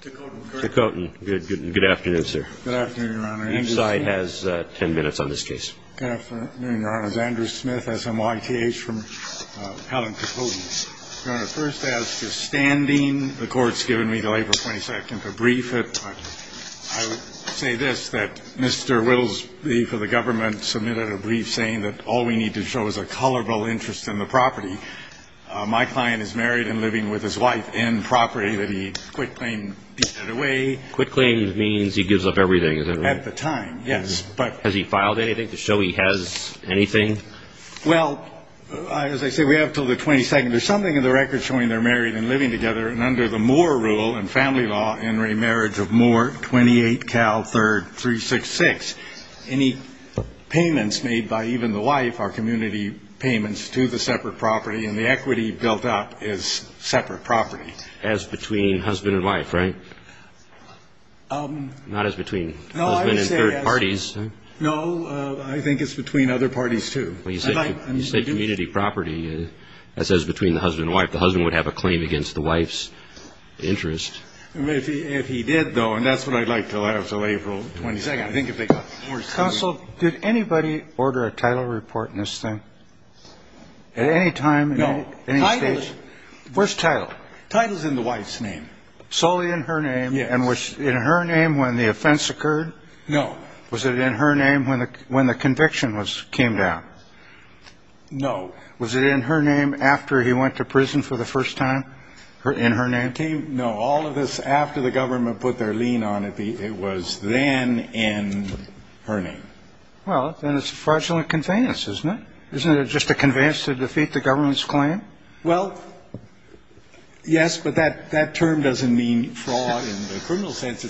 Tikotin. Good afternoon, sir. Good afternoon, Your Honor. Each side has ten minutes on this case. Good afternoon, Your Honor. This is Andrew Smith, SMYTH, from Palin-Tikotin. Your Honor, first I ask, withstanding the Court's given me until April 22nd to brief it, I would say this, that Mr. Wittles, the head of the government, submitted a brief saying that all we need to show is a colorful interest in the property. My client is married and living with his wife in property that he quit-claim beat it away. Quit-claim means he gives up everything, is that right? At the time, yes. Has he filed anything to show he has anything? Well, as I say, we have until the 22nd. There's something in the record showing they're married and living together, and under the Moore rule and family law, in remarriage of Moore, 28 Cal 3366, any payments made by even the wife are community payments to the separate property, and the equity built up is separate property. As between husband and wife, right? Not as between husband and third parties. No, I think it's between other parties, too. Well, you said community property. That says between the husband and wife. The husband would have a claim against the wife's interest. If he did, though, and that's what I'd like to allow until April 22nd. Counsel, did anybody order a title report in this thing? At any time? No. Where's title? Title's in the wife's name. Solely in her name, and was it in her name when the offense occurred? No. Was it in her name when the conviction came down? No. Was it in her name after he went to prison for the first time? In her name? No. All of this after the government put their lien on it, it was then in her name. Well, then it's a fraudulent conveyance, isn't it? Isn't it just a conveyance to defeat the government's claim? Well, yes, but that term doesn't mean fraud in the criminal sense. I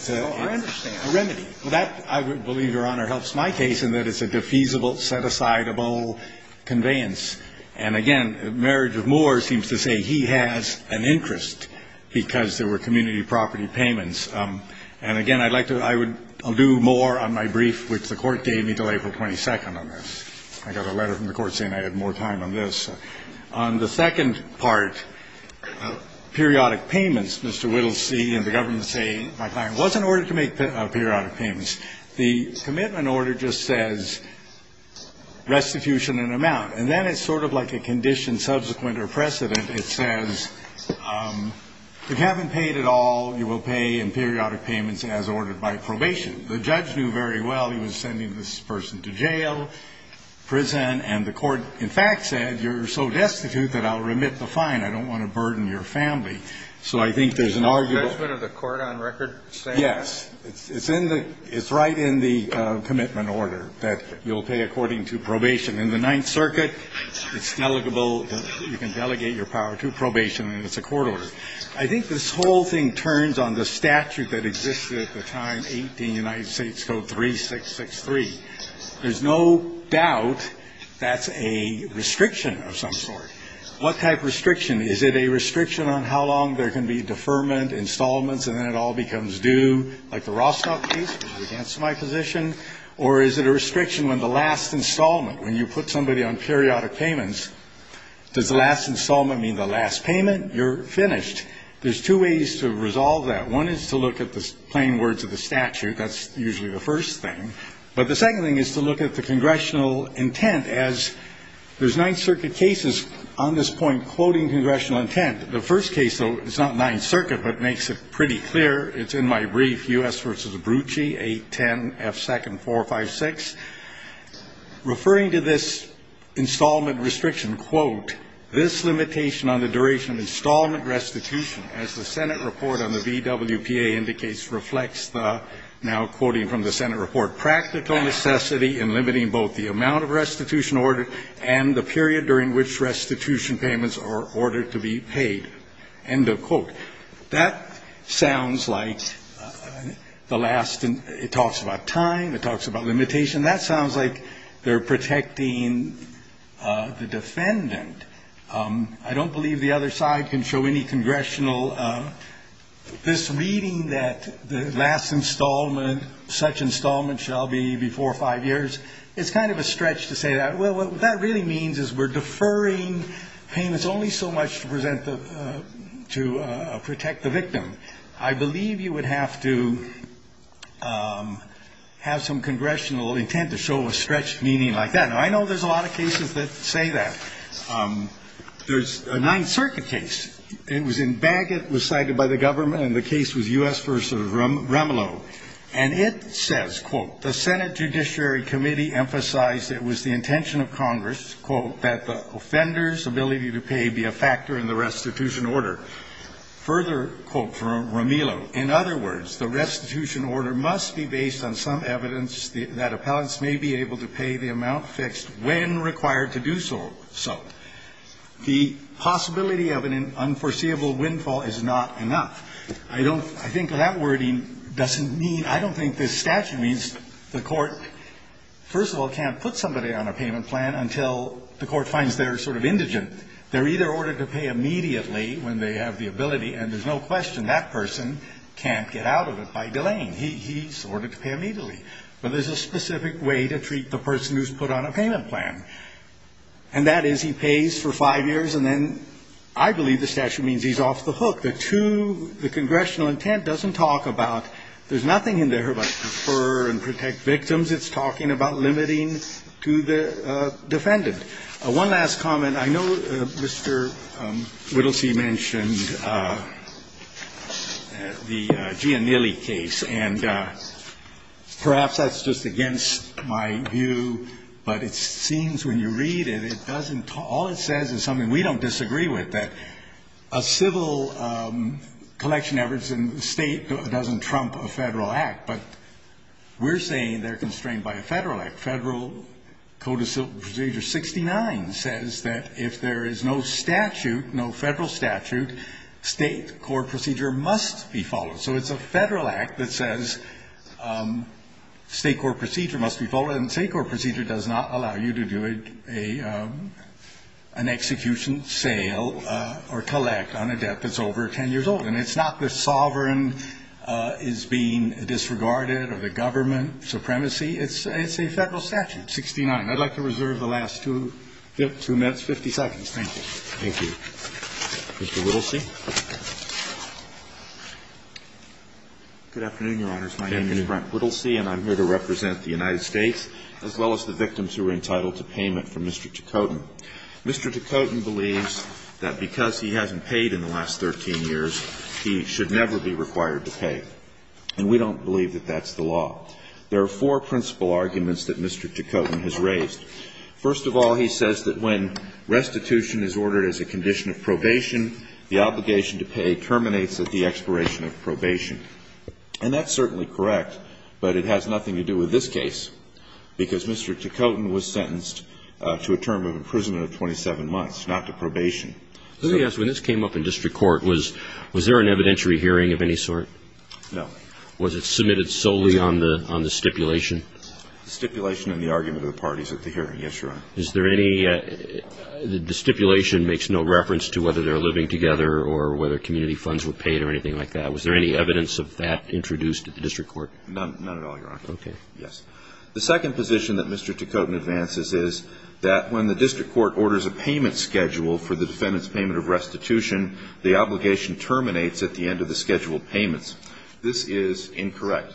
understand. It's a remedy. That, I believe, Your Honor, helps my case in that it's a defeasible, set-asideable conveyance. And, again, the marriage of Moore seems to say he has an interest because there were community property payments. And, again, I'd like to do more on my brief, which the court gave me until April 22nd on this. I got a letter from the court saying I had more time on this. On the second part, periodic payments, Mr. Whittlesey and the government say, my client was in order to make periodic payments. The commitment order just says restitution in amount. And then it's sort of like a condition subsequent or precedent. It says, if you haven't paid at all, you will pay in periodic payments as ordered by probation. The judge knew very well he was sending this person to jail, prison, and the court, in fact, said, you're so destitute that I'll remit the fine. I don't want to burden your family. So I think there's an argument. Is the judgment of the court on record saying that? Yes. It's right in the commitment order that you'll pay according to probation. In the Ninth Circuit, it's delegable. You can delegate your power to probation, and it's a court order. I think this whole thing turns on the statute that existed at the time, 18 United States Code 3663. There's no doubt that's a restriction of some sort. What type of restriction? Is it a restriction on how long there can be deferment, installments, and then it all becomes due, like the Rostock case, which was against my position? Or is it a restriction when the last installment, when you put somebody on periodic payments, does the last installment mean the last payment? You're finished. There's two ways to resolve that. One is to look at the plain words of the statute. That's usually the first thing. But the second thing is to look at the congressional intent as there's Ninth Circuit cases on this point quoting congressional intent. The first case, though, is not Ninth Circuit, but makes it pretty clear. It's in my brief, U.S. v. Brucci, 810F2nd456, referring to this installment restriction, quote, this limitation on the duration of installment restitution as the Senate report on the VWPA indicates reflects the, now quoting from the Senate report, practical necessity in limiting both the amount of restitution ordered and the period during which restitution payments are ordered to be paid, end of quote. That sounds like the last, it talks about time. It talks about limitation. That sounds like they're protecting the defendant. I don't believe the other side can show any congressional, this reading that the last installment, such installment shall be before five years, it's kind of a stretch to say that. Well, what that really means is we're deferring payments only so much to present the, to protect the victim. I believe you would have to have some congressional intent to show a stretched meaning like that. Now, I know there's a lot of cases that say that. There's a Ninth Circuit case. It was in Bagot, was cited by the government, and the case was U.S. v. Remelow. And it says, quote, the Senate Judiciary Committee emphasized it was the intention of Congress, quote, that the offender's ability to pay be a factor in the restitution order. Further, quote from Remelow, in other words, the restitution order must be based on some evidence that appellants may be able to pay the amount fixed when required to do so. The possibility of an unforeseeable windfall is not enough. I don't, I think that wording doesn't mean, I don't think this statute means the court finds they're sort of indigent. They're either ordered to pay immediately when they have the ability, and there's no question that person can't get out of it by delaying. He's ordered to pay immediately. But there's a specific way to treat the person who's put on a payment plan. And that is he pays for five years, and then I believe the statute means he's off the hook. The two, the congressional intent doesn't talk about, there's nothing in there about defer and protect victims. It means it's talking about limiting to the defendant. One last comment. I know Mr. Whittlesey mentioned the Giannilli case, and perhaps that's just against my view, but it seems when you read it, it doesn't, all it says is something we don't disagree with, that a civil collection efforts in the State doesn't trump a Federal act. But we're saying they're constrained by a Federal act. Federal Code of Civil Procedure 69 says that if there is no statute, no Federal statute, State court procedure must be followed. So it's a Federal act that says State court procedure must be followed, and State court procedure does not allow you to do an execution, sale, or collect on a debt that's over 10 years old. And it's not the sovereign is being disregarded or the government supremacy. It's a Federal statute, 69. I'd like to reserve the last two minutes, 50 seconds. Thank you. Thank you. Mr. Whittlesey. Good afternoon, Your Honors. My name is Brent Whittlesey, and I'm here to represent the United States as well as the victims who are entitled to payment from Mr. Tocotin. Mr. Tocotin believes that because he hasn't paid in the last 13 years, he should never be required to pay. And we don't believe that that's the law. There are four principal arguments that Mr. Tocotin has raised. First of all, he says that when restitution is ordered as a condition of probation, the obligation to pay terminates at the expiration of probation. And that's certainly correct, but it has nothing to do with this case, because Mr. Tocotin was sentenced to a term of imprisonment of 27 months, not to probation. Let me ask you, when this came up in district court, was there an evidentiary hearing of any sort? No. Was it submitted solely on the stipulation? The stipulation and the argument of the parties at the hearing, yes, Your Honor. Is there any ñ the stipulation makes no reference to whether they're living together or whether community funds were paid or anything like that. Was there any evidence of that introduced at the district court? None at all, Your Honor. Okay. Yes. The second position that Mr. Tocotin advances is that when the district court orders a payment schedule for the defendant's payment of restitution, the obligation terminates at the end of the scheduled payments. This is incorrect.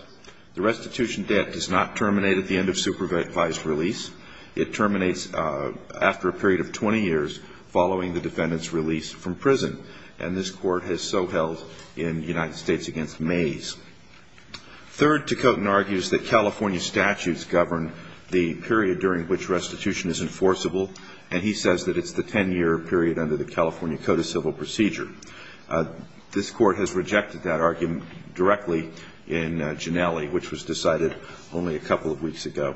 The restitution debt does not terminate at the end of supervised release. It terminates after a period of 20 years following the defendant's release from prison. And this Court has so held in United States v. Mays. Third, Tocotin argues that California statutes govern the period during which restitution is enforceable, and he says that it's the 10-year period under the California Code of Civil Procedure. This Court has rejected that argument directly in Ginelli, which was decided only a couple of weeks ago.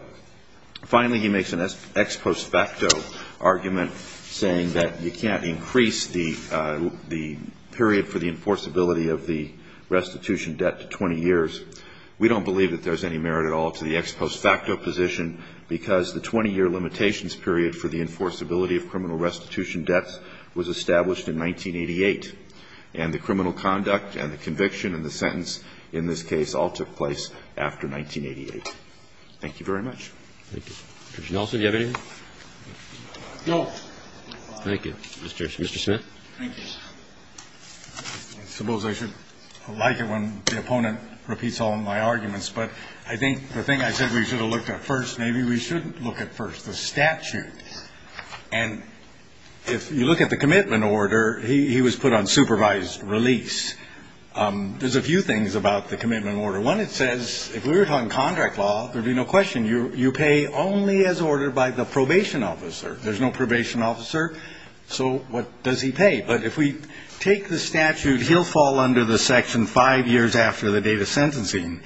Finally, he makes an ex post facto argument saying that you can't increase the period for the enforceability of the restitution debt to 20 years. We don't believe that there's any merit at all to the ex post facto position because the 20-year limitations period for the enforceability of criminal restitution debts was established in 1988, and the criminal conduct and the conviction and the sentence in this case all took place after 1988. Thank you very much. Thank you. Judge Nelson, do you have anything? No. Thank you. Mr. Smith? Thank you. I suppose I should like it when the opponent repeats all of my arguments, but I think the thing I said we should have looked at first, maybe we shouldn't look at first, the statute. And if you look at the commitment order, he was put on supervised release. There's a few things about the commitment order. One, it says if we were talking contract law, there'd be no question, you pay only as ordered by the probation officer. There's no probation officer. So what does he pay? But if we take the statute, he'll fall under the section five years after the date of sentencing.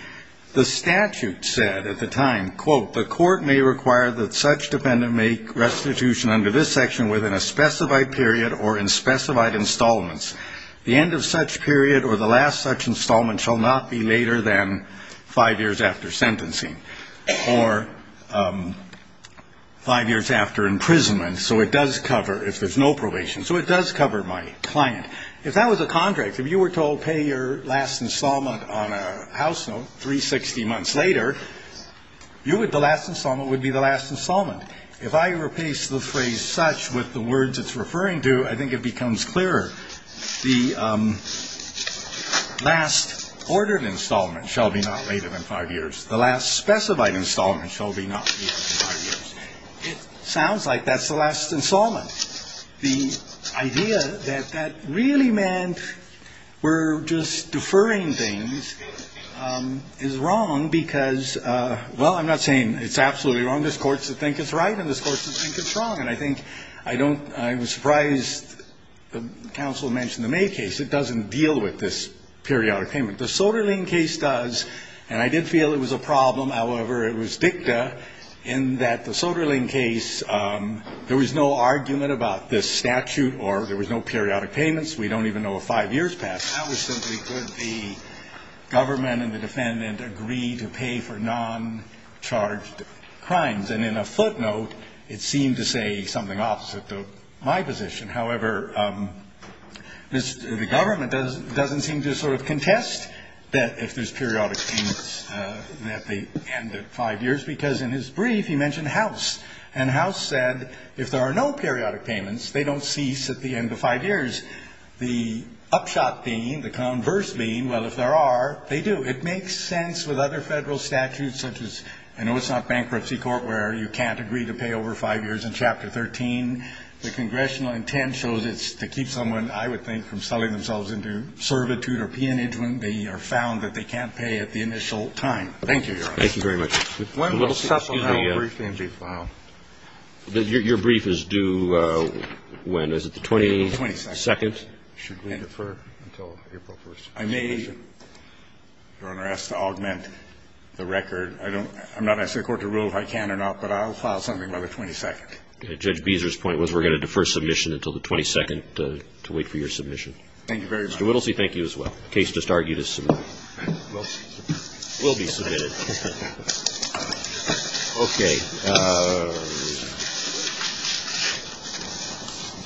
The statute said at the time, quote, the court may require that such defendant make restitution under this section within a specified period or in specified installments. The end of such period or the last such installment shall not be later than five years after sentencing or five years after imprisonment. So it does cover if there's no probation. So it does cover my client. If that was a contract, if you were told pay your last installment on a house note 360 months later, the last installment would be the last installment. If I replace the phrase such with the words it's referring to, I think it becomes clearer. The last ordered installment shall be not later than five years. The last specified installment shall be not later than five years. It sounds like that's the last installment. The idea that that really meant we're just deferring things is wrong because, well, I'm not saying it's absolutely wrong. This Court should think it's right and this Court should think it's wrong. And I think I don't – I was surprised the counsel mentioned the May case. It doesn't deal with this periodic payment. The Soderling case does, and I did feel it was a problem. However, it was dicta in that the Soderling case, there was no argument about this statute or there was no periodic payments. We don't even know if five years passed. That was simply could the government and the defendant agree to pay for noncharged crimes. And in a footnote, it seemed to say something opposite of my position. However, the government doesn't seem to sort of contest that if there's periodic payments at the end of five years because in his brief he mentioned House. And House said if there are no periodic payments, they don't cease at the end of five years. The upshot being, the converse being, well, if there are, they do. It makes sense with other federal statutes such as – I know it's not bankruptcy court where you can't agree to pay over five years. In Chapter 13, the congressional intent shows it's to keep someone, I would think, from selling themselves into servitude or peonage when they are found that they can't pay at the initial time. Thank you, Your Honor. Thank you very much. When will Sessom have a brief injury file? Your brief is due when? Is it the 22nd? The 22nd. Should we defer until April 1st? I may, Your Honor, ask to augment the record. I don't – I'm not asking the Court to rule if I can or not, but I'll file something by the 22nd. Judge Beezer's point was we're going to defer submission until the 22nd to wait for your submission. Thank you very much. Mr. Whittlesey, thank you as well. The case just argued as submitted. It will be submitted. Okay.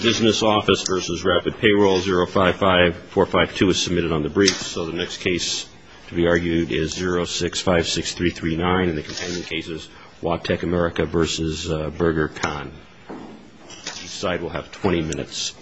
Business Office v. Rapid Payroll, 055-452 is submitted on the brief. So the next case to be argued is 065-6339, and the companion case is Watec, America v. Burger Con. Each side will have 20 minutes.